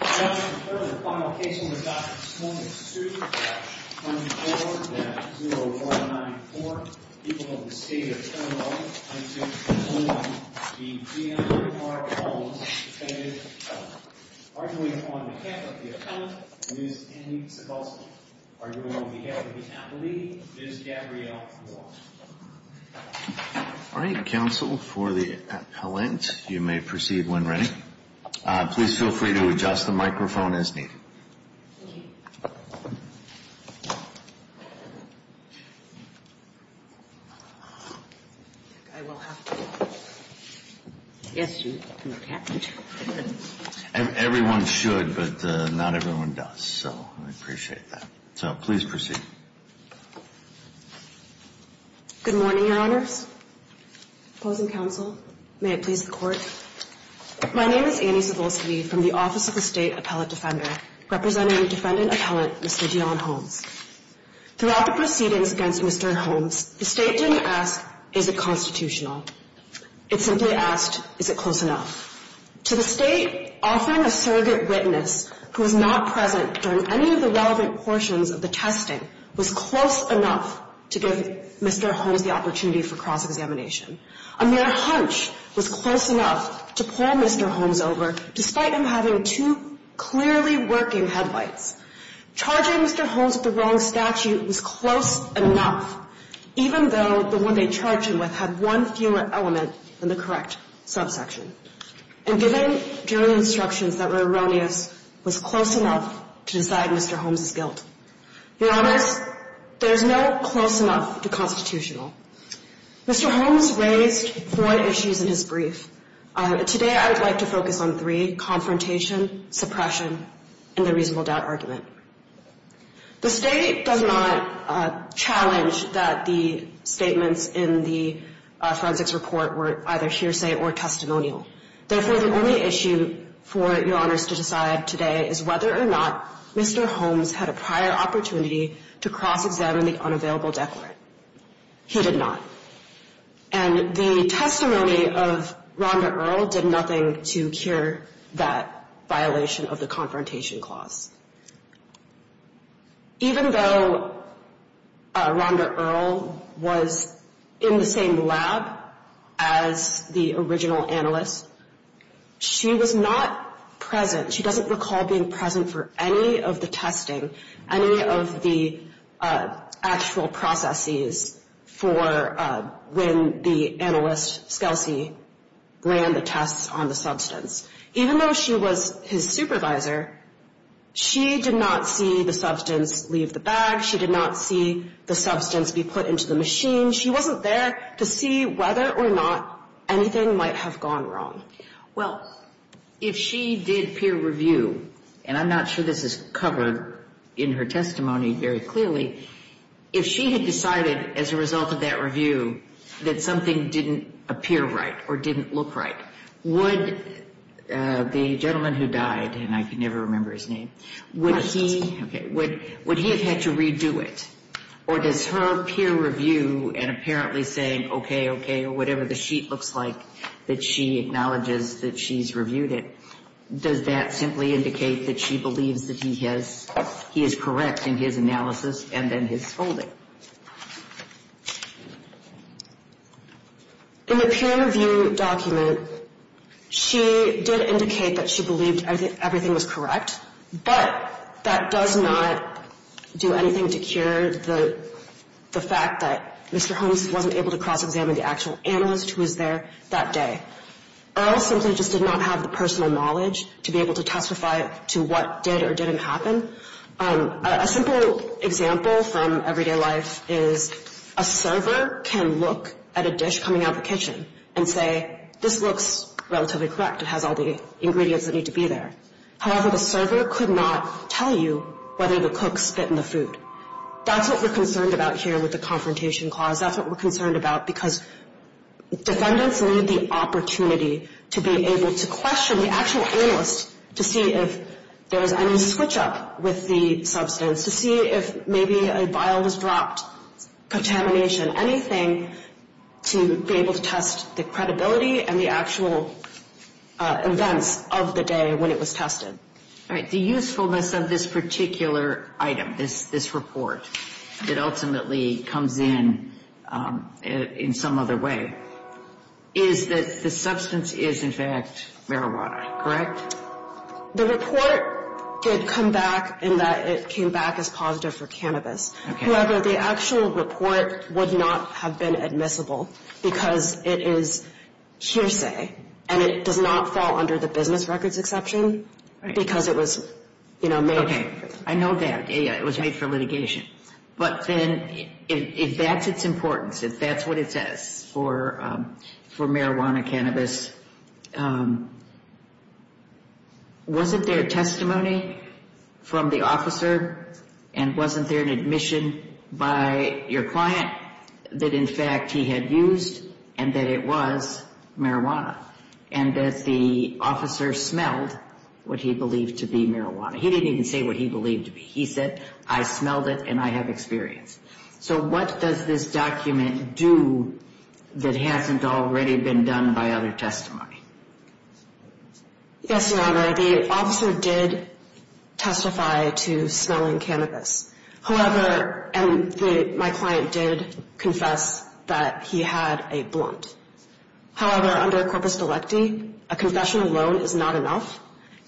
Judge, for the final case under Dr. Smolnik's suit at 24-0494, people of the State of Toronto, I'm to call on the PM, Mr. Mark Holmes, and Mr. Kennedy to come forward. Arguing on behalf of the appellant, Ms. Annie Segalski. Arguing on behalf of the appellee, Ms. Gabrielle Moore. The microphone is needed. Everyone should, but not everyone does. So I appreciate that. So please proceed. Good morning, Your Honours. Opposing counsel, may it please the Court. My name is Annie Segalski from the Office of the State Appellate Defender, representing defendant appellant, Mr. Dionne Holmes. Throughout the proceedings against Mr. Holmes, the State didn't ask, is it constitutional? It simply asked, is it close enough? To the State, offering a surrogate witness who was not present during any of the relevant portions of the testing was close enough to give Mr. Holmes the opportunity for cross-examination. A mere hunch was close enough to pull Mr. Holmes over, despite him having two clearly working headlights. Charging Mr. Holmes with the wrong statute was close enough, even though the one they charged him with had one fewer element than the correct subsection. And giving jury instructions that were erroneous was close enough to decide Mr. Holmes' guilt. Your Honours, there's no close enough to constitutional. Mr. Holmes raised four issues in his brief. Today I would like to focus on three, confrontation, suppression, and the reasonable doubt argument. The State does not challenge that the statements in the forensics report were either hearsay or testimonial. Therefore, the only issue for Your Honours to decide today is whether or not Mr. Holmes had a prior opportunity to cross-examine the unavailable declarant. He did not. And the testimony of Rhonda Earle did nothing to cure that violation of the confrontation clause. Even though Rhonda Earle was in the same lab as the original analyst, she was not present. She doesn't recall being present for any of the testing, any of the actual processes for when the analyst, Scalise, ran the tests on the substance. Even though she was his supervisor, she did not see the substance leave the bag. She did not see the substance be put into the machine. She wasn't there to see whether or not anything might have gone wrong. Well, if she did peer review, and I'm not sure this is covered in her testimony very clearly, if she had decided as a result of that review that something didn't appear right or didn't look right, would the gentleman who died, and I can never remember his name, would he have had to redo it? Or does her peer review and apparently saying, okay, okay, whatever the sheet looks like, that she acknowledges that she's reviewed it, does that simply indicate that she believes that he has, he is correct in his analysis and in his holding? In the peer review document, she did indicate that she believed everything was correct, but that does not do anything to cure the fact that Mr. Holmes wasn't able to cross-examine the actual analyst who was there that day. Earl simply just did not have the personal knowledge to be able to testify to what did or didn't happen. A simple example from everyday life is a server can look at a dish coming out the kitchen and say, this looks relatively correct. It has all the ingredients that need to be there. However, the server could not tell you whether the cook spit in the food. That's what we're concerned about here with the confrontation clause. That's what we're concerned about because defendants need the opportunity to be able to question the actual analyst to see if there was any switch-up with the substance, to see if maybe a vial was dropped, contamination, anything to be able to test the credibility and the actual events of the day when it was tested. All right. The usefulness of this particular item, this report, that ultimately comes in in some other way is that the substance is, in fact, marijuana, correct? The report did come back in that it came back as positive for cannabis. However, the actual report would not have been admissible because it is hearsay and it does not fall under the business records exception because it was made for litigation. I know that. It was made for litigation. But then if that's its importance, if that's what it says for marijuana, cannabis, wasn't there testimony from the officer and wasn't there an admission by your client that, in fact, he had used and that it was marijuana and that the officer smelled what he believed to be marijuana? He didn't even say what he believed to be. He said, I smelled it and I have experience. So what does this document do that hasn't already been done by other testimony? Yes, Your Honor, the officer did testify to smelling cannabis. However, and my client did confess that he had a blunt. However, under corpus delicti, a confession alone is not enough.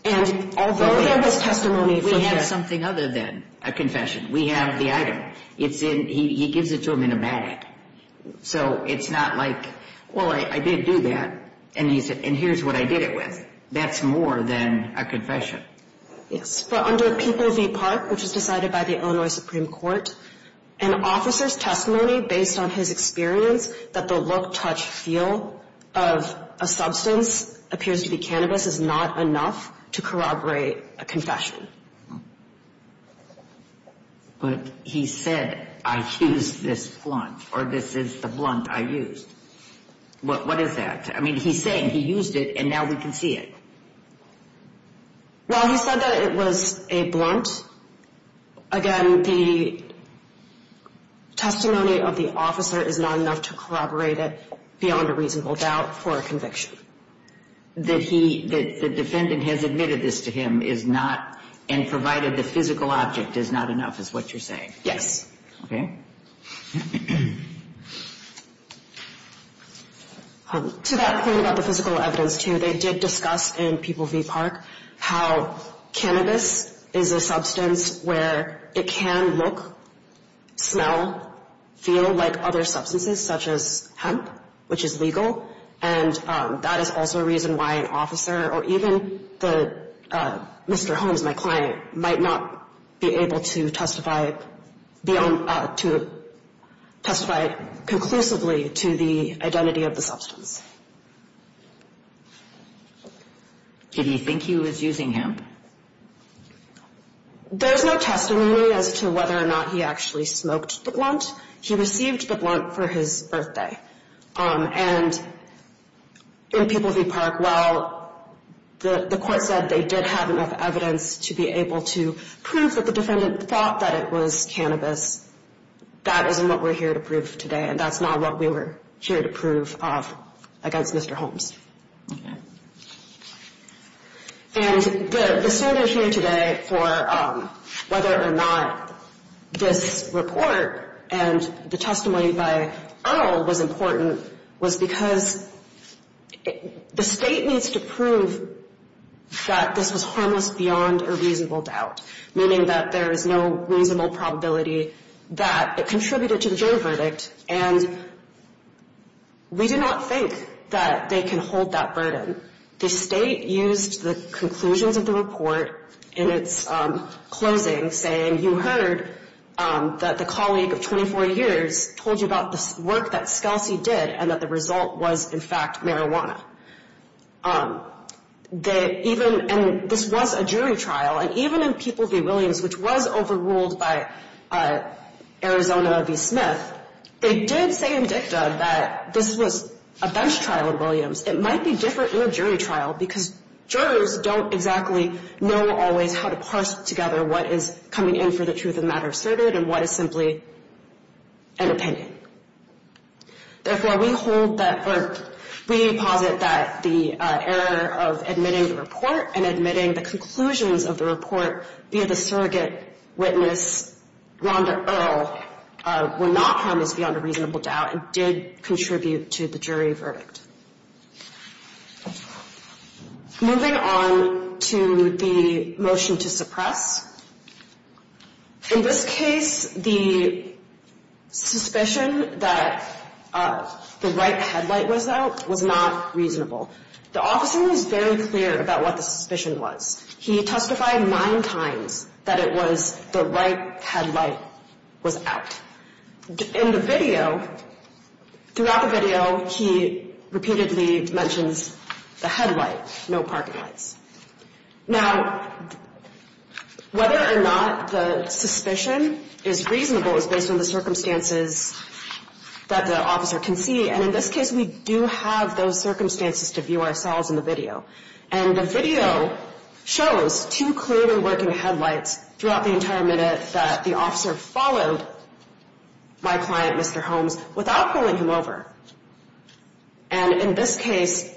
And although there was testimony for the – We have something other than a confession. We have the item. He gives it to him in a bag. So it's not like, well, I did do that, and here's what I did it with. That's more than a confession. Yes, but under People v. Park, which was decided by the Illinois Supreme Court, an officer's testimony based on his experience that the look, touch, feel of a substance appears to be cannabis is not enough to corroborate a confession. But he said, I used this blunt, or this is the blunt I used. What is that? I mean, he's saying he used it, and now we can see it. Well, he said that it was a blunt. Again, the testimony of the officer is not enough to corroborate it beyond a reasonable doubt for a conviction. That he – that the defendant has admitted this to him is not – and provided the physical object is not enough is what you're saying? Yes. Okay. To that point about the physical evidence, too, they did discuss in People v. Park how cannabis is a substance where it can look, smell, feel like other substances, such as hemp, which is legal. And that is also a reason why an officer or even the – Mr. Holmes, my client, might not be able to testify beyond – to testify conclusively to the identity of the substance. Did he think he was using hemp? There's no testimony as to whether or not he actually smoked the blunt. He received the blunt for his birthday. And in People v. Park, while the court said they did have enough evidence to be able to prove that the defendant thought that it was cannabis, that isn't what we're here to prove today, and that's not what we were here to prove against Mr. Holmes. Okay. was because the state needs to prove that this was harmless beyond a reasonable doubt, meaning that there is no reasonable probability that it contributed to the jury verdict. And we do not think that they can hold that burden. The state used the conclusions of the report in its closing saying, you heard that the colleague of 24 years told you about the work that Scalsi did and that the result was, in fact, marijuana. And this was a jury trial. And even in People v. Williams, which was overruled by Arizona v. Smith, they did say in dicta that this was a bench trial in Williams. It might be different in a jury trial because jurors don't exactly know always how to parse together what is coming in for the truth of the matter asserted and what is simply an opinion. Therefore, we hold that or we posit that the error of admitting the report and admitting the conclusions of the report via the surrogate witness, Rhonda Earle, were not harmless beyond a reasonable doubt and did contribute to the jury verdict. Moving on to the motion to suppress. In this case, the suspicion that the right headlight was out was not reasonable. The officer was very clear about what the suspicion was. He testified nine times that it was the right headlight was out. In the video, throughout the video, he repeatedly mentions the headlight, no parking lights. Now, whether or not the suspicion is reasonable is based on the circumstances that the officer can see. And in this case, we do have those circumstances to view ourselves in the video. And the video shows two clearly working headlights throughout the entire minute that the officer followed my client, Mr. Holmes, without pulling him over. And in this case,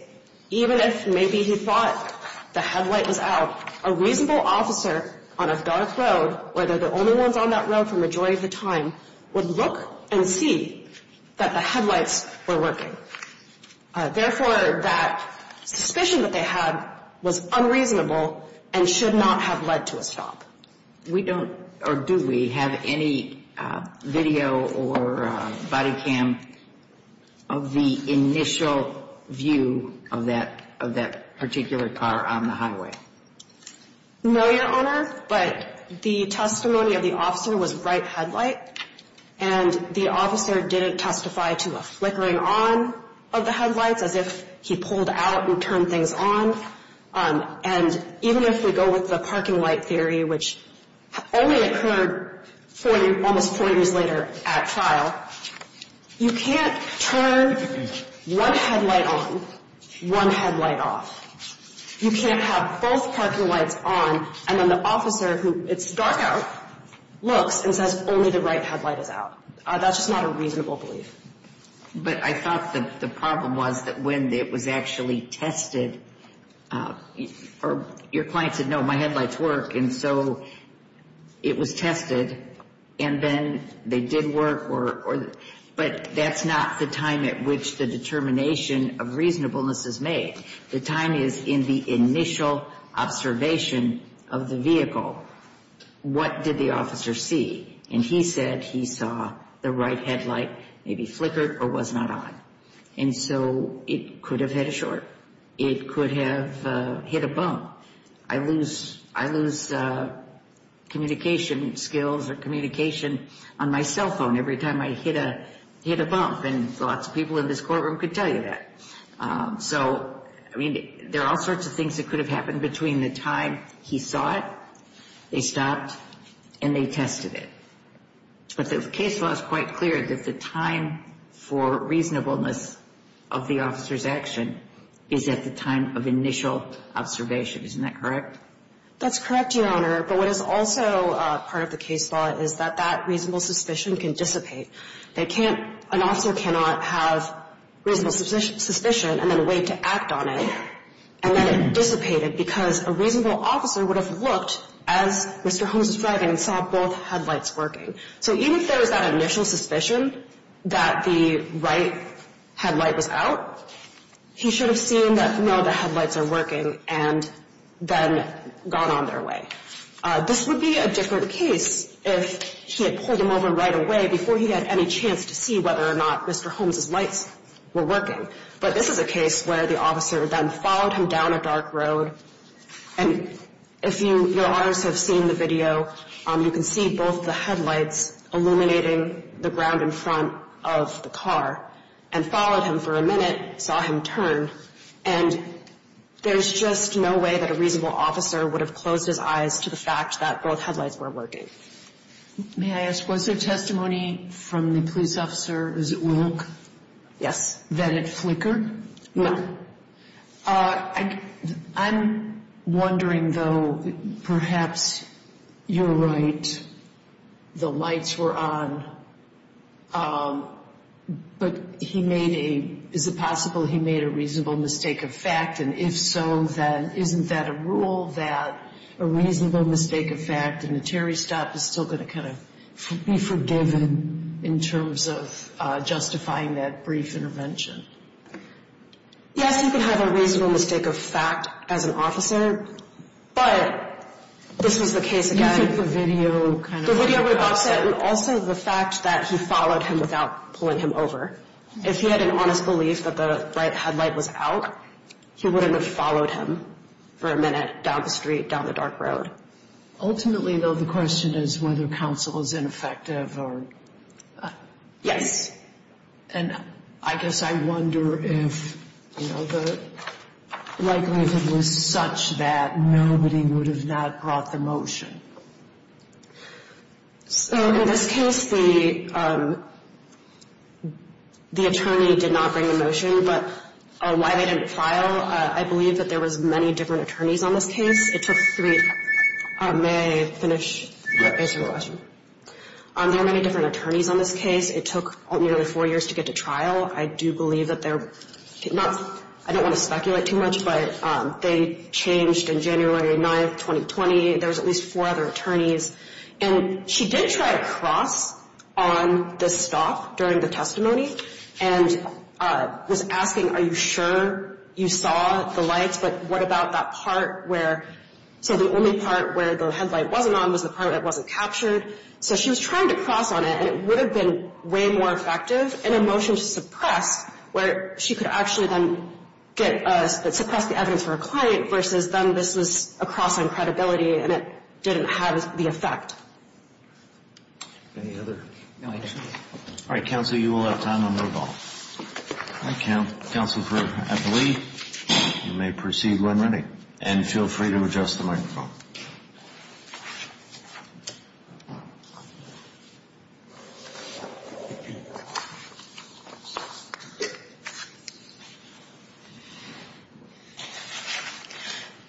even if maybe he thought the headlight was out, a reasonable officer on a dark road, where they're the only ones on that road for the majority of the time, would look and see that the headlights were working. Therefore, that suspicion that they had was unreasonable and should not have led to a stop. We don't, or do we, have any video or body cam of the initial view of that particular car on the highway? No, Your Honor, but the testimony of the officer was right headlight. And the officer didn't testify to a flickering on of the headlights, as if he pulled out and turned things on. And even if we go with the parking light theory, which only occurred almost four years later at trial, you can't turn one headlight on, one headlight off. You can't have both parking lights on, and then the officer, who it's dark out, looks and says, only the right headlight is out. That's just not a reasonable belief. But I thought the problem was that when it was actually tested, your client said, no, my headlights work, and so it was tested, and then they did work. But that's not the time at which the determination of reasonableness is made. The time is in the initial observation of the vehicle. What did the officer see? And he said he saw the right headlight maybe flickered or was not on. And so it could have hit a short. It could have hit a bump. I lose communication skills or communication on my cell phone every time I hit a bump, and lots of people in this courtroom could tell you that. So, I mean, there are all sorts of things that could have happened between the time he saw it, they stopped, and they tested it. But the case law is quite clear that the time for reasonableness of the officer's action is at the time of initial observation. Isn't that correct? That's correct, Your Honor. But what is also part of the case law is that that reasonable suspicion can dissipate. An officer cannot have reasonable suspicion and then wait to act on it and let it dissipate because a reasonable officer would have looked as Mr. Holmes was driving and saw both headlights working. So even if there was that initial suspicion that the right headlight was out, he should have seen that, no, the headlights are working and then gone on their way. This would be a different case if he had pulled them over right away before he had any chance to see whether or not Mr. Holmes's lights were working. But this is a case where the officer then followed him down a dark road. And if you, Your Honors, have seen the video, you can see both the headlights illuminating the ground in front of the car and followed him for a minute, saw him turn. And there's just no way that a reasonable officer would have closed his eyes to the fact that both headlights were working. May I ask, was there testimony from the police officer, is it Wilk? Yes. That it flickered? No. I'm wondering, though, perhaps you're right. The headlights were on, but he made a, is it possible he made a reasonable mistake of fact? And if so, then isn't that a rule that a reasonable mistake of fact and a Terry stop is still going to kind of be forgiven in terms of justifying that brief intervention? Yes, you can have a reasonable mistake of fact as an officer, but this was the case again. I think the video kind of... The video would have offset, and also the fact that he followed him without pulling him over. If he had an honest belief that the right headlight was out, he wouldn't have followed him for a minute down the street, down the dark road. Ultimately, though, the question is whether counsel is ineffective or... Yes. And I guess I wonder if, you know, the likelihood was such that nobody would have not brought the motion. So in this case, the attorney did not bring the motion. But why they didn't file, I believe that there was many different attorneys on this case. May I finish? There are many different attorneys on this case. It took nearly four years to get to trial. I do believe that they're not... I don't want to speculate too much, but they changed in January 9th, 2020. There was at least four other attorneys. And she did try to cross on the stop during the testimony and was asking, are you sure you saw the lights? But what about that part where... So the only part where the headlight wasn't on was the part that wasn't captured. So she was trying to cross on it, and it would have been way more effective in a motion to suppress, where she could actually then suppress the evidence for a client versus then this was a cross on credibility, and it didn't have the effect. Any other questions? All right, counsel, you will have time to move on. Counsel, I believe you may proceed when ready. And feel free to adjust the microphone.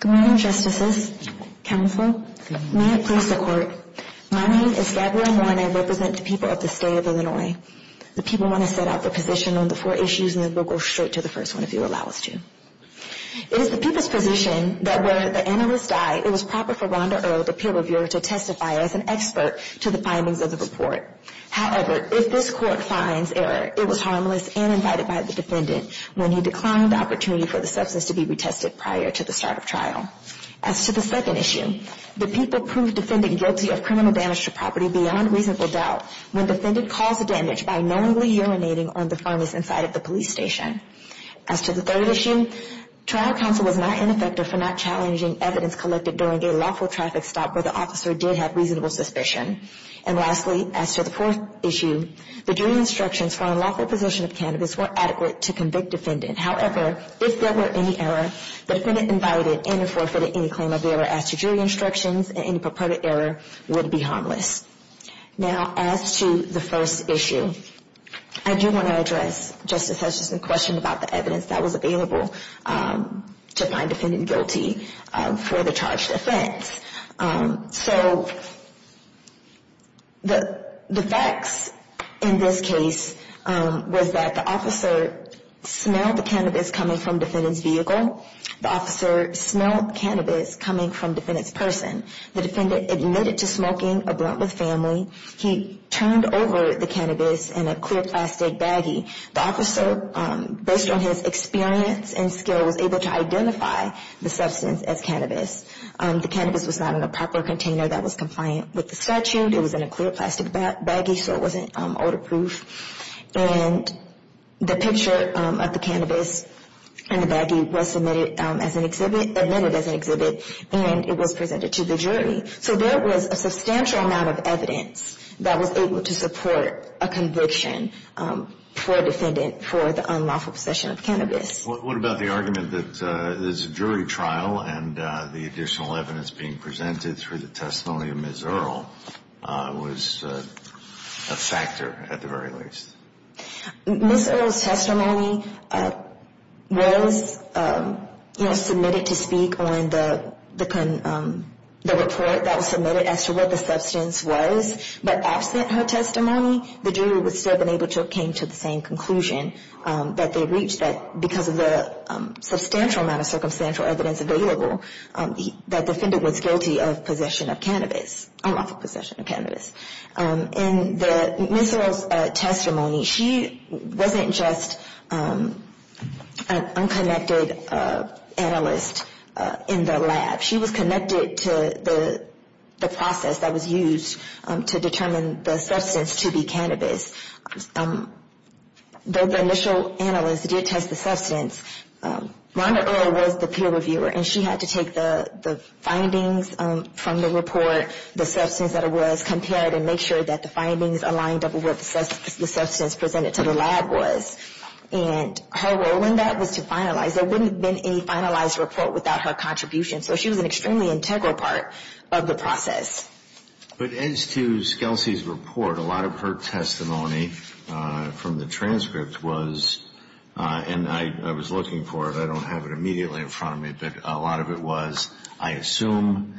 Good morning, Justices. Counsel, may it please the Court. My name is Gabrielle Nguyen. I represent the people of the state of Illinois. The people want to set out their position on the four issues, and then we'll go straight to the first one, if you'll allow us to. It is the people's position that where the analyst died, it was proper for Rhonda Earle, the peer reviewer, to testify as an expert to the findings of the report. However, if this Court finds error, it was harmless and invited by the defendant when he declined the opportunity for the substance to be retested prior to the start of trial. As to the second issue, the people proved defendant guilty of criminal damage to property beyond reasonable doubt when defendant caused the damage by knowingly urinating on the furnace inside of the police station. As to the third issue, trial counsel was not ineffective for not challenging evidence collected during a lawful traffic stop where the officer did have reasonable suspicion. And lastly, as to the fourth issue, the jury instructions for unlawful possession of cannabis were adequate to convict defendant. However, if there were any error, the defendant invited and forfeited any claim of error as to jury instructions, and any purported error would be harmless. Now, as to the first issue, I do want to address, Justice Hutchinson's question about the evidence that was available to find defendant guilty for the charged offense. So the facts in this case was that the officer smelled the cannabis coming from defendant's vehicle. The officer smelled cannabis coming from defendant's person. The defendant admitted to smoking a blunt with family. He turned over the cannabis in a clear plastic baggie. The officer, based on his experience and skills, was able to identify the substance as cannabis. The cannabis was not in a proper container that was compliant with the statute. It was in a clear plastic baggie, so it wasn't odor-proof. And the picture of the cannabis in the baggie was submitted as an exhibit, admitted as an exhibit, and it was presented to the jury. So there was a substantial amount of evidence that was able to support a conviction for defendant for the unlawful possession of cannabis. What about the argument that this jury trial and the additional evidence being presented through the testimony of Ms. Earle was a factor, at the very least? Ms. Earle's testimony was submitted to speak on the report that was submitted as to what the substance was, but absent her testimony, the jury was still able to come to the same conclusion that they reached, that because of the substantial amount of circumstantial evidence available, that the defendant was guilty of possession of cannabis, unlawful possession of cannabis. In Ms. Earle's testimony, she wasn't just an unconnected analyst in the lab. She was connected to the process that was used to determine the substance to be cannabis. The initial analyst did test the substance. Rhonda Earle was the peer reviewer, and she had to take the findings from the report, the substance that it was, compare it and make sure that the findings aligned up with what the substance presented to the lab was. And her role in that was to finalize. There wouldn't have been a finalized report without her contribution. She was an extremely integral part of the process. But as to Scalise's report, a lot of her testimony from the transcript was, and I was looking for it, I don't have it immediately in front of me, but a lot of it was, I assume,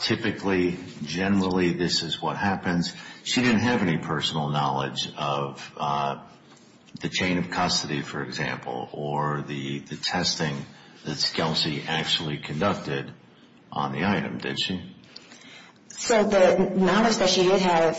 typically, generally, this is what happens. She didn't have any personal knowledge of the chain of custody, for example, or the testing that Scalise actually conducted. On the item, did she? So the knowledge that she did have,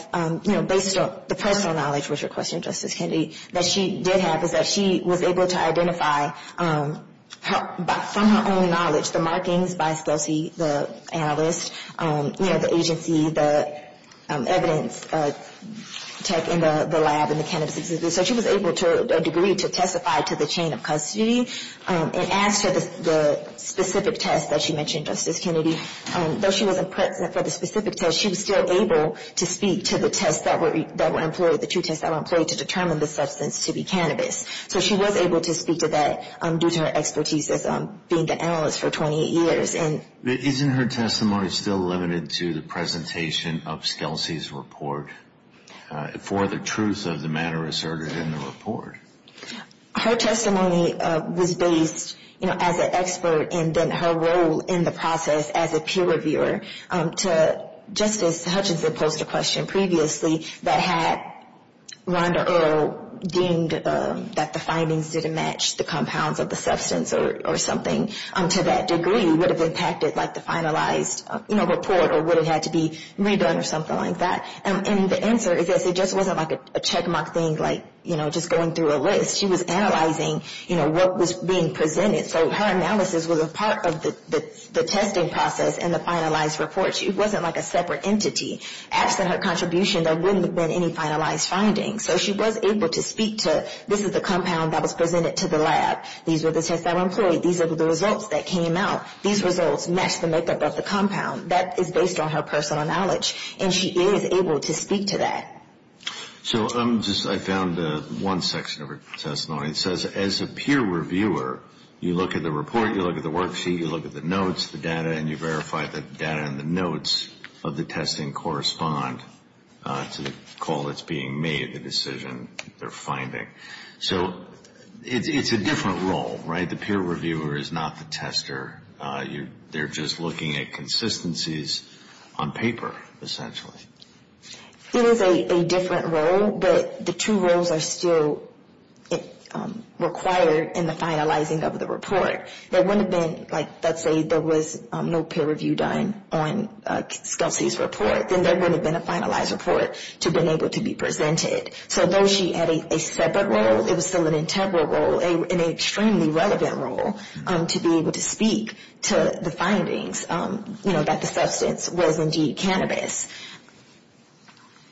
based on the personal knowledge, was your question, Justice Kennedy, that she did have is that she was able to identify, from her own knowledge, the markings by Scalise, the analyst, the agency, the evidence, the lab and the cannabis exhibit. So she was able, to a degree, to testify to the chain of custody. And as to the specific test that she mentioned, Justice Kennedy, though she wasn't present for the specific test, she was still able to speak to the two tests that were employed to determine the substance to be cannabis. So she was able to speak to that, due to her expertise as being the analyst for 28 years. Isn't her testimony still limited to the presentation of Scalise's report, for the truth of the manner asserted in the report? Her testimony was based, you know, as an expert, and then her role in the process as a peer reviewer. To Justice Hutchinson posed a question previously that had Rhonda Earle deemed that the findings didn't match the compounds of the substance or something, to that degree, would have impacted, like, the finalized, you know, report, or would it have to be redone or something like that. And the answer is this, it just wasn't like a check mark thing, like, you know, just going through a list. She was analyzing, you know, what was being presented. So her analysis was a part of the testing process and the finalized report. She wasn't like a separate entity. Absent her contribution, there wouldn't have been any finalized findings. So she was able to speak to, this is the compound that was presented to the lab. These were the tests that were employed. These were the results that came out. These results matched the makeup of the compound. That is based on her personal knowledge, and she is able to speak to that. So I found one section of her testimony that says, as a peer reviewer, you look at the report, you look at the worksheet, you look at the notes, the data, and you verify that the data and the notes of the testing correspond to the call that's being made, the decision they're finding. So it's a different role, right? The peer reviewer is not the tester. They're just looking at consistencies on paper, essentially. It is a different role, but the two roles are still required in the finalizing of the report. There wouldn't have been, like, let's say there was no peer review done on Kelsey's report, then there wouldn't have been a finalized report to be able to be presented. So though she had a separate role, it was still an integral role, an extremely relevant role, to be able to speak to the findings, you know, that the substance was indeed cannabis.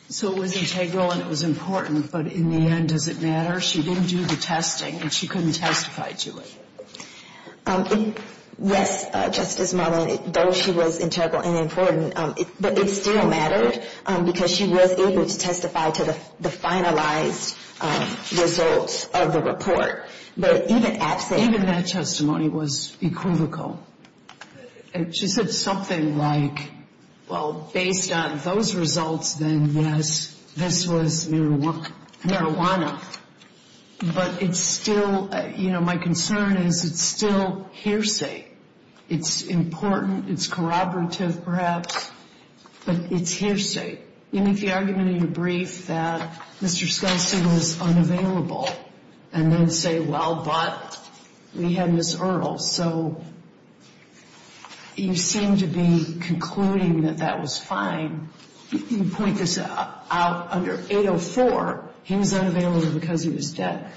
So it was integral and it was important, but in the end, does it matter? She didn't do the testing, and she couldn't testify to it. Yes, Justice Marlene, though she was integral and important, but it still mattered, because she was able to testify to the finalized results of the report. But even that testimony was equivocal. She said something like, well, based on those results, then yes, this was marijuana. But it's still, you know, my concern is it's still hearsay. It's important, it's corroborative, perhaps, but it's hearsay. You make the argument in your brief that Mr. Skelsey was unavailable, and then say, well, but we had Ms. Earle. So you seem to be concluding that that was fine. You point this out under 804, he was unavailable because he was dead.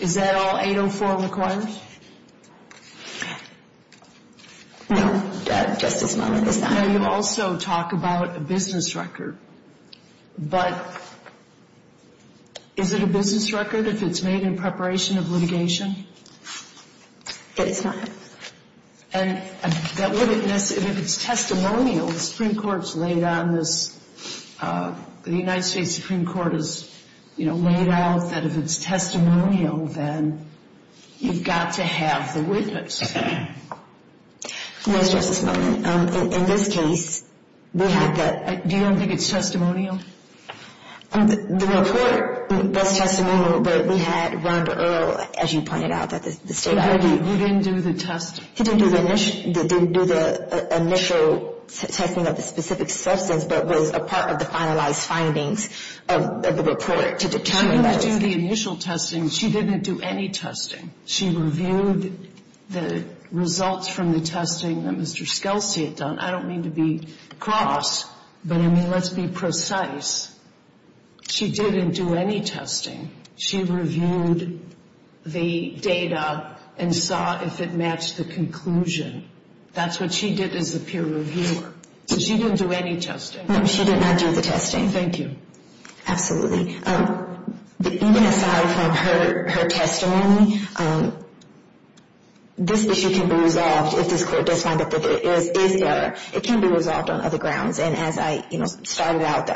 Is that all 804 requires? No, Justice Marlene, it's not. No, you also talk about a business record, but is it a business record if it's made in preparation of litigation? But it's not. And if it's testimonial, the Supreme Court has laid on this, the United States Supreme Court has laid out that if it's testimonial, then you've got to have the witness. Yes, Justice Marlene, in this case, we had that. Do you don't think it's testimonial? The report, that's testimonial, but we had Rhonda Earle, as you pointed out, that the State Attorney. He didn't do the initial testing of the specific substance, but was a part of the finalized findings of the report to determine that. She didn't do the initial testing. She didn't do any testing. She reviewed the results from the testing that Mr. Scalise had done. I don't mean to be cross, but I mean, let's be precise. She didn't do any testing. She reviewed the data and saw if it matched the conclusion. That's what she did as a peer reviewer. So she didn't do any testing. No, she did not do the testing. Thank you. Absolutely. Even aside from her testimony, this issue can be resolved if this court does find that it is error. It can be resolved on other grounds. And as I started out,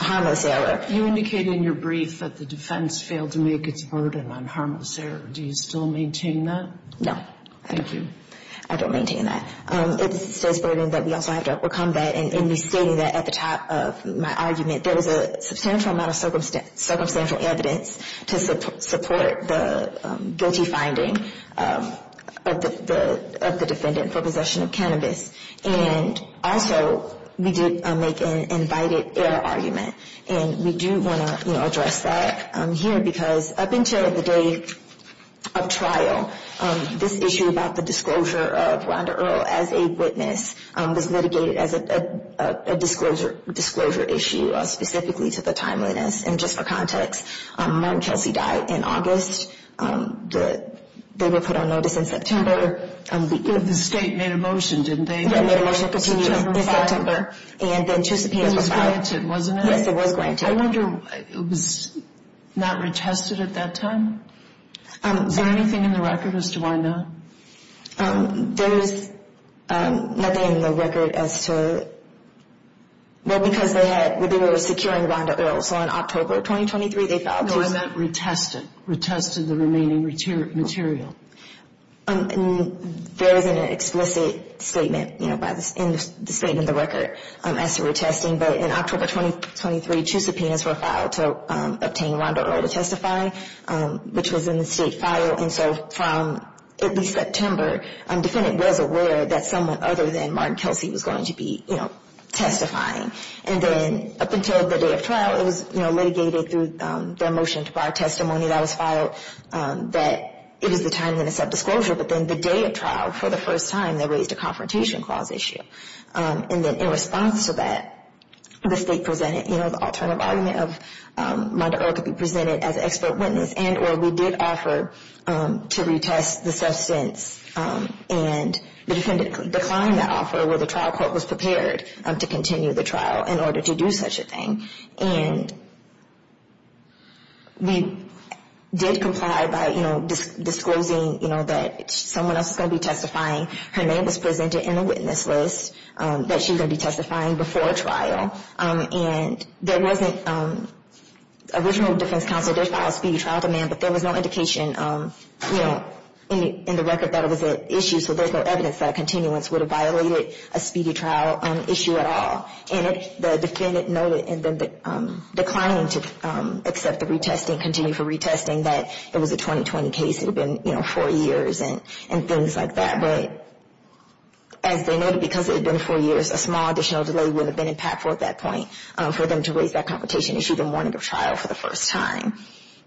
harmless error. You indicated in your brief that the defense failed to make its burden on harmless error. Do you still maintain that? No. Thank you. I don't maintain that. It says burden, but we also have to overcome that. And you see that at the top of my argument, there was a substantial amount of circumstantial evidence to support the guilty finding of the defendant for possession of cannabis. And also, we did make an invited error argument. And we do want to address that here, because up until the day of trial, this issue about the disclosure of Rhonda Earle as a witness was litigated as a disclosure issue specifically to the timeliness. And just for context, Martin Kelsey died in August. They were put on notice in September. The state made a motion, didn't they? They made a motion to continue in September. It was granted, wasn't it? Yes, it was granted. I wonder if it was not retested at that time? Is there anything in the record as to why not? There is nothing in the record as to... Well, because they were securing Rhonda Earle. So in October 2023, they filed... No, it was not retested. Retested the remaining material. There isn't an explicit statement in the statement of the record as to retesting. But in October 2023, two subpoenas were filed to obtain Rhonda Earle to testify, which was in the state file. And so from at least September, the defendant was aware that someone other than Martin Kelsey was going to be testifying. And then up until the day of trial, it was litigated through their motion to bar testimony that was filed, that it was the time of the subdisclosure. But then the day of trial, for the first time, they raised a confrontation clause issue. And then in response to that, the state presented, you know, the alternative argument of Rhonda Earle could be presented as an expert witness, and or we did offer to retest the substance. And the defendant declined that offer, where the trial court was prepared to continue the trial in order to do such a thing. And we did comply by, you know, disclosing, you know, that someone else is going to be testifying. Her name was presented in the witness list that she was going to be testifying before trial. And there wasn't... Original defense counsel did file a speedy trial demand, but there was no indication, you know, in the record that it was an issue. So there's no evidence that a continuance would have violated a speedy trial issue at all. And the defendant noted in the decline to accept the retesting, continue for retesting, that it was a 2020 case. It had been, you know, four years and things like that. But as they noted, because it had been four years, a small additional delay would have been impactful at that point for them to raise that confrontation issue, the morning of trial for the first time.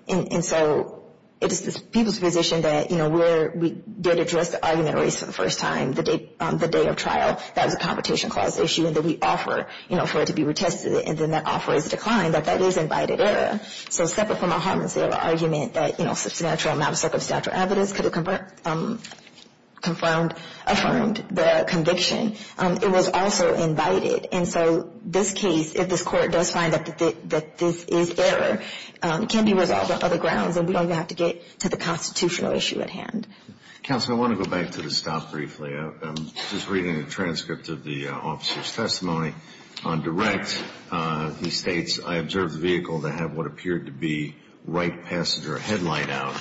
And so it is the people's position that, you know, where we did address the argument raised for the first time, the day of trial, that was a confrontation clause issue, and that we offer, you know, for it to be retested. And then that offer is declined, that that is invited error. So separate from a harm and sale argument that, you know, substantial, non-circumstantial evidence could have confirmed, affirmed the conviction, it was also invited. And so this case, if this court does find that this is error, can be resolved on other grounds, and we don't have to get to the constitutional issue at hand. Counsel, I want to go back to the stop briefly. I'm just reading a transcript of the officer's testimony on direct. He states, I observed the vehicle to have what appeared to be right passenger headlight out.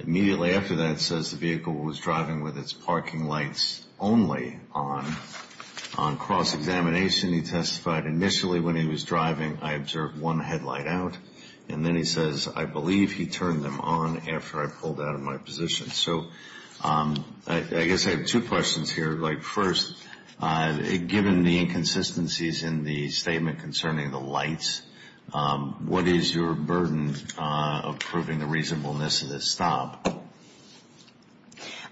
Immediately after that, it says the vehicle was driving with its parking lights only on. On cross-examination, he testified initially when he was driving, I observed one headlight out. And then he says, I believe he turned them on after I pulled out of my position. So I guess I have two questions here. Like, first, given the inconsistencies in the statement concerning the lights, what is your burden of proving the reasonableness of this stop?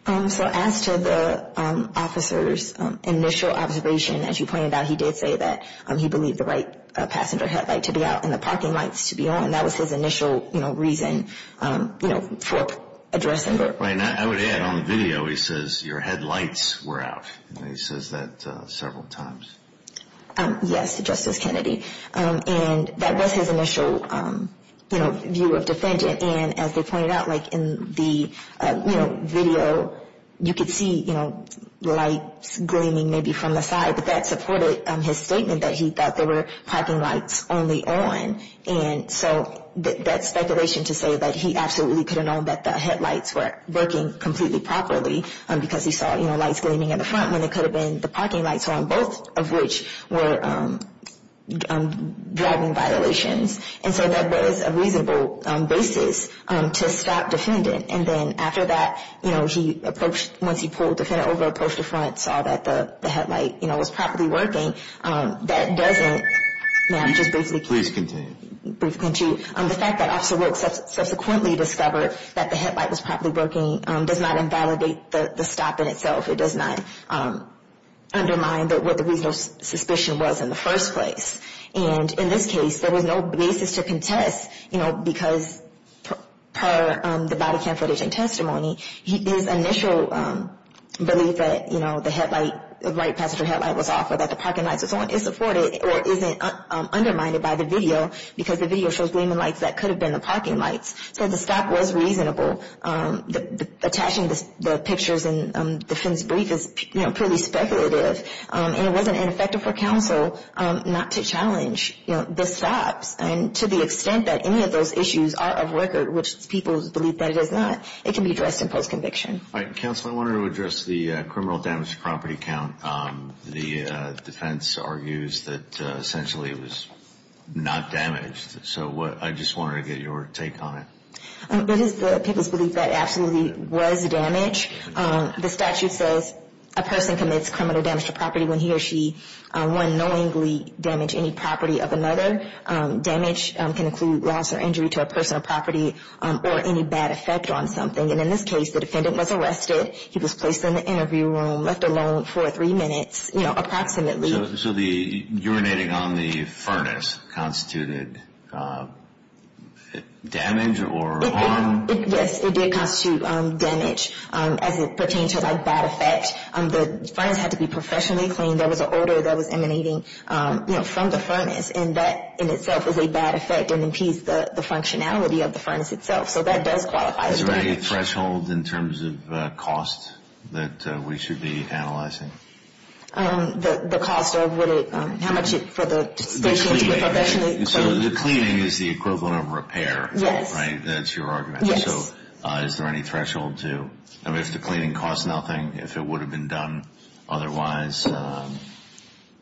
So as to the officer's initial observation, as you pointed out, he did say that he believed the right passenger headlight to be out and the parking lights to be on. That was his initial reason for addressing it. And I would add on the video, he says your headlights were out. He says that several times. Yes, Justice Kennedy. And that was his initial view of defendant. And as they pointed out, like in the video, you could see lights gleaming maybe from the side, but that supported his statement that he thought there were parking lights only on. And so that speculation to say that he absolutely could have known that the headlights were working completely properly because he saw, you know, lights gleaming in the front when it could have been the parking lights on, both of which were driving violations. And so that was a reasonable basis to stop defendant. And then after that, you know, he approached, once he pulled defendant over, approached the front, saw that the headlight, you know, was properly working. That doesn't. Please continue. The fact that Officer Wilkes subsequently discovered that the headlight was properly working does not invalidate the stop in itself. It does not undermine what the reasonable suspicion was in the first place. And in this case, there was no basis to contest, you know, because per the body cam footage and testimony, his initial belief that, you know, the headlight, the passenger headlight was off or that the parking lights was on is supported or isn't undermined by the video, because the video shows gleaming lights that could have been the parking lights. So the stop was reasonable. Attaching the pictures in the defendant's brief is, you know, purely speculative. And it wasn't ineffective for counsel not to challenge, you know, the stops. And to the extent that any of those issues are of record, which people believe that it is not, it can be addressed in post-conviction. All right. Counsel, I wanted to address the criminal damage to property count. The defense argues that essentially it was not damaged. So I just wanted to get your take on it. It is the people's belief that it absolutely was damaged. The statute says a person commits criminal damage to property when he or she unknowingly damaged any property of another. Damage can include loss or injury to a personal property or any bad effect on something. And in this case, the defendant was arrested. He was placed in the interview room, left alone for three minutes, you know, approximately. So the urinating on the furnace constituted damage or harm? Yes, it did constitute damage as it pertained to, like, bad effect. The furnace had to be professionally cleaned. There was an odor that was emanating, you know, from the furnace. And that in itself is a bad effect and impedes the functionality of the furnace itself. So that does qualify as damage. Is there any threshold in terms of cost that we should be analyzing? The cost of what it, how much it, for the station to be professionally cleaned. So the cleaning is the equivalent of repair, right? That's your argument. Yes. So is there any threshold to, I mean, if the cleaning costs nothing, if it would have been done otherwise,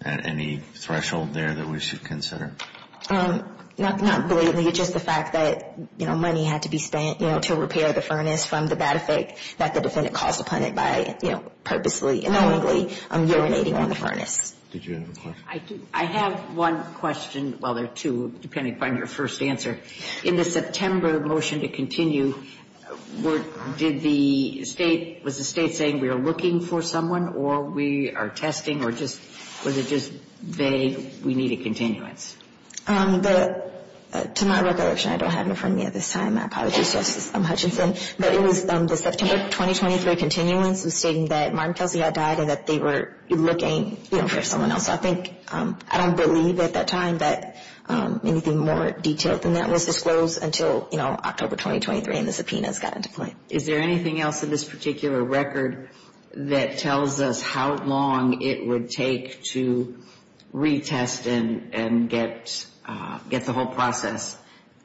any threshold there that we should consider? Not blatantly, just the fact that, you know, money had to be spent, you know, to repair the furnace from the bad effect that the defendant caused upon it by, you know, purposely, unknowingly. Did you have a question? I do. I have one question. Well, there are two, depending upon your first answer. In the September motion to continue, were, did the State, was the State saying we are looking for someone or we are testing or just, was it just vague, we need a continuance? To my recollection, I don't have it in front of me at this time. My apologies, Justice Hutchinson. But it was the September 2023 continuance stating that Martin Kelsey had died and that they were looking, you know, for someone else. I think, I don't believe at that time that anything more detailed than that was disclosed until, you know, October 2023 and the subpoenas got into play. Is there anything else in this particular record that tells us how long it would take to retest and get, get the whole process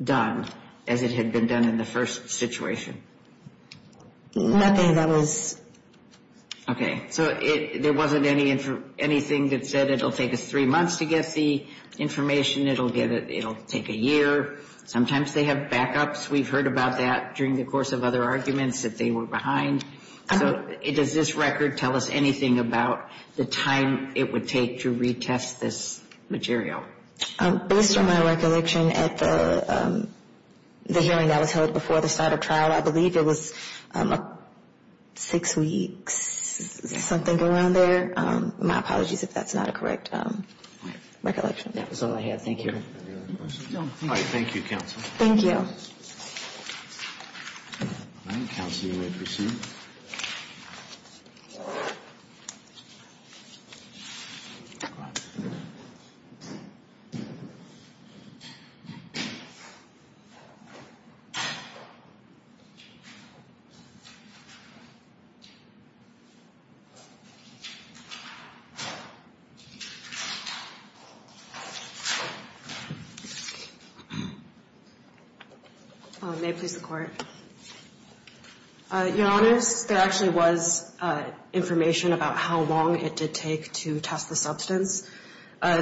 done as it had been done in the first situation? Nothing that was... Okay. So it, there wasn't any, anything that said it'll take us three months to get the information, it'll get, it'll take a year. Sometimes they have backups. We've heard about that during the course of other arguments that they were behind. So does this record tell us anything about the time it would take to retest this material? Based on my recollection at the, the hearing that was held before the start of trial, I believe it was six weeks, something around there. My apologies if that's not a correct recollection. That was all I had. Thank you. All right. Thank you, counsel. Thank you. The, the, the, the, the, the, the, the, the, the, the,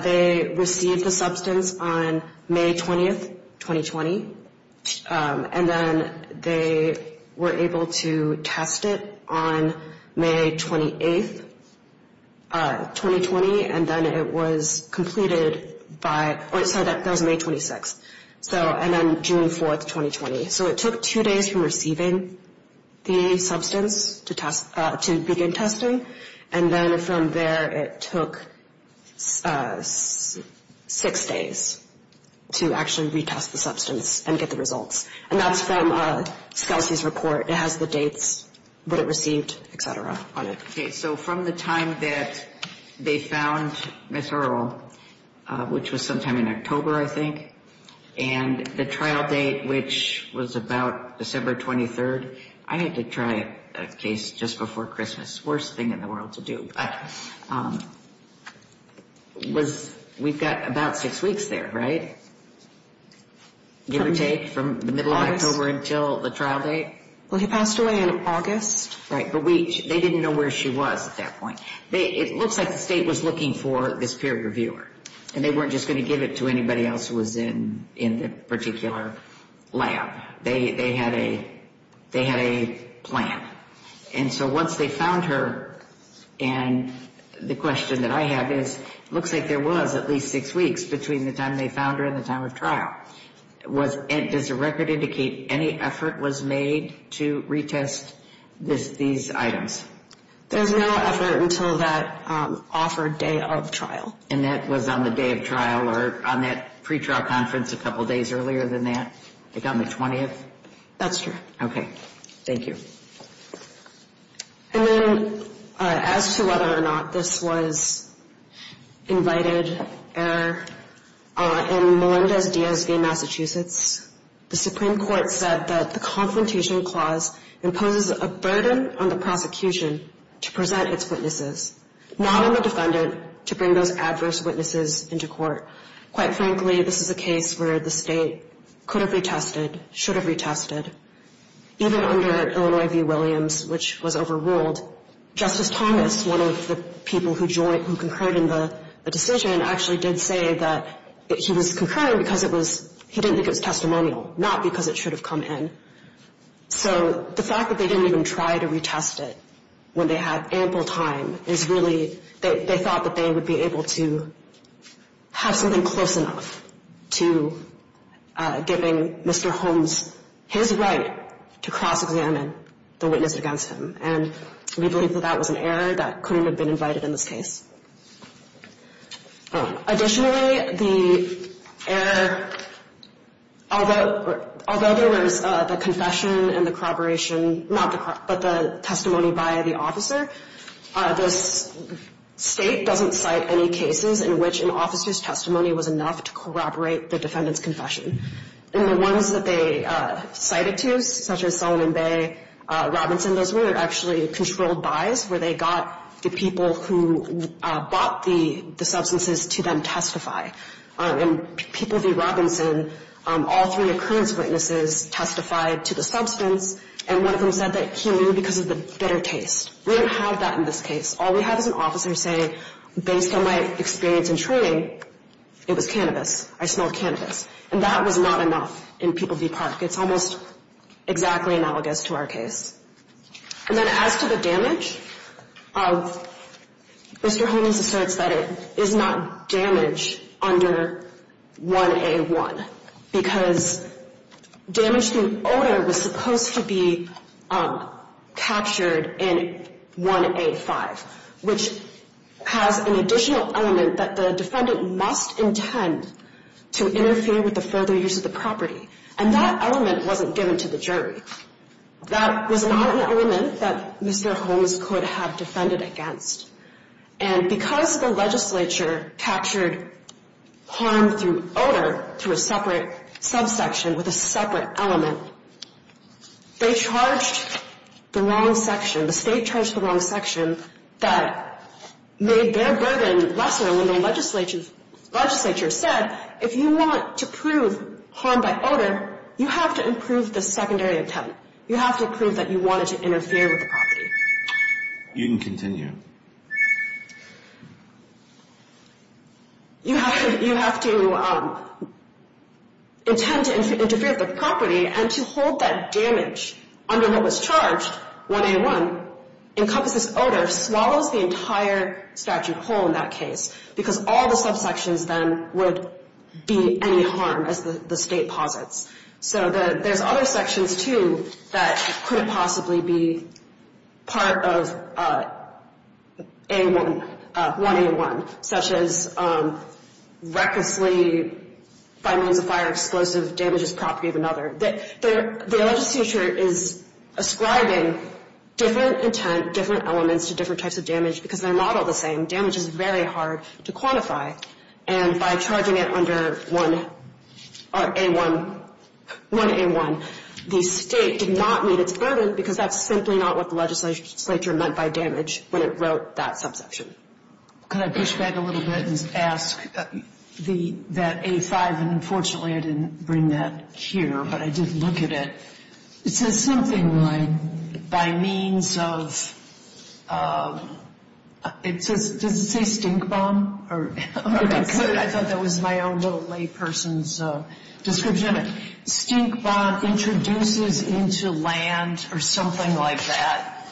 they, they received the substance on May 20th, 2020. And then they were able to test it on May 28th, 2020. And then it was completed by, or it said that was May 26. So, and then June 4th, 2020. So it took two days from receiving the substance to test, to begin testing. And then from there, it took six days to actually retest the substance and get the results. And that's from SCLC's report. It has the dates, what it received, et cetera, on it. Okay. So from the time that they found Ms. Earl, which was sometime in October, I think, and the trial date, which was about December 23rd, I had to try a case just before Christmas. Worst thing in the world to do. We've got about six weeks there, right? Give or take from the middle of October until the trial date? Well, he passed away in August. Right. But they didn't know where she was at that point. It looks like the state was looking for this peer reviewer. And they weren't just going to give it to anybody else who was in the particular lab. They had a plan. And so once they found her, and the question that I have is, looks like there was at least six weeks between the time they found her and the time of trial. Does the record indicate any effort was made to retest these items? There was no effort until that offered day of trial. And that was on the day of trial or on that pretrial conference a couple days earlier than that? Like on the 20th? That's true. Okay. Thank you. And then as to whether or not this was invited error, in Melendez DSV, Massachusetts, the Supreme Court said that the confrontation clause imposes a burden on the prosecution to present its witnesses, not on the defendant, to bring those adverse witnesses into court. Quite frankly, this is a case where the state could have retested, should have retested. Even under Illinois v. Williams, which was overruled, Justice Thomas, one of the people who concurred in the decision, actually did say that he was concurring because he didn't think it was testimonial, not because it should have come in. So the fact that they didn't even try to retest it when they had ample time is really, they thought that they would be able to have something close enough to giving Mr. Holmes his right to cross-examine the witness against him. And we believe that that was an error that couldn't have been invited in this case. Additionally, the error, although there was the confession and the corroboration, not the, but the testimony by the officer, this State doesn't cite any cases in which an officer's testimony was enough to corroborate the defendant's confession. And the ones that they cited to, such as Sullivan Bay, Robinson, those were actually controlled buys, where they got the people who bought the substances to then testify. In people v. Robinson, all three occurrence witnesses testified to the substance, and one of them said that he knew because of the bitter taste. We don't have that in this case. All we have is an officer saying, based on my experience in training, it was cannabis, I smelled cannabis. And that was not enough in people v. Park. It's almost exactly analogous to our case. And then as to the damage, Mr. Holdings asserts that it is not damage under 1A1, because damage through odor was supposed to be captured in 1A5, which has an additional element that the defendant must intend to interfere with the further use of the property. And that element wasn't given to the jury. That was not an element that Mr. Holdings could have defended against. And because the legislature captured harm through odor through a separate subsection with a separate element, they charged the wrong section, the state charged the wrong section that made their burden lesser when the legislature said, if you want to prove harm by odor, you have to improve the secondary intent. You have to prove that you wanted to interfere with the property. You can continue. You have to intend to interfere with the property, and to hold that damage under what was charged, 1A1, and encompass this odor, swallows the entire statute whole in that case, because all the subsections then would be any harm, as the state posits. So there's other sections, too, that couldn't possibly be part of 1A1, such as recklessly by means of fire explosive damages property of another. The legislature is ascribing different intent, different elements to different types of damage, because they're not all the same. Damage is very hard to quantify, and by charging it under 1A1, the state did not meet its burden, because that's simply not what the legislature meant by damage when it wrote that subsection. Could I push back a little bit and ask that A5, and unfortunately I didn't bring that here, but I did look at it. It says something like, by means of, does it say stink bomb? I thought that was my own little layperson's description of it. Stink bomb introduces into land or something like that,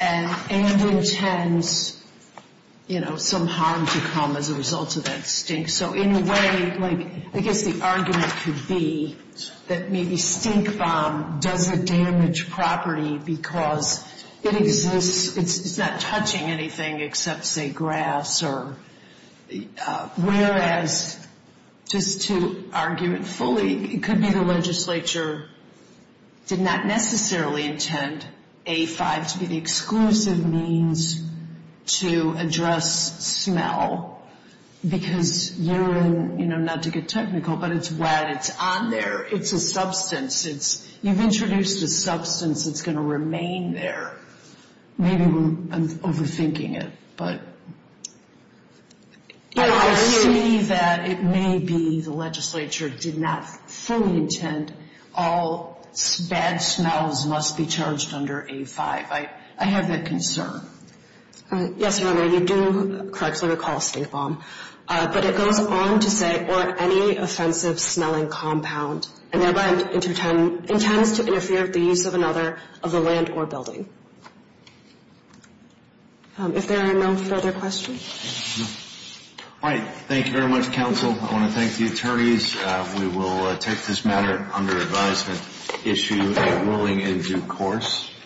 and intends some harm to come as a result of that stink. So in a way, I guess the argument could be that maybe stink bomb doesn't damage property, because it exists. It's not touching anything except, say, grass. Whereas, just to argue it fully, it could be the legislature did not necessarily intend A5 to be the exclusive means to address smell, because urine, not to get technical, but it's wet. It's on there. It's a substance. You've introduced a substance that's going to remain there. Maybe I'm overthinking it. I see that it may be the legislature did not fully intend all bad smells must be charged under A5. I have that concern. Yes, Your Honor, you do correctly recall stink bomb. But it goes on to say, or any offensive smelling compound, and thereby intends to interfere with the use of another of the land or building. If there are no further questions. All right. Thank you very much, counsel. I want to thank the attorneys. We will take this matter under advisement, issue a ruling in due course.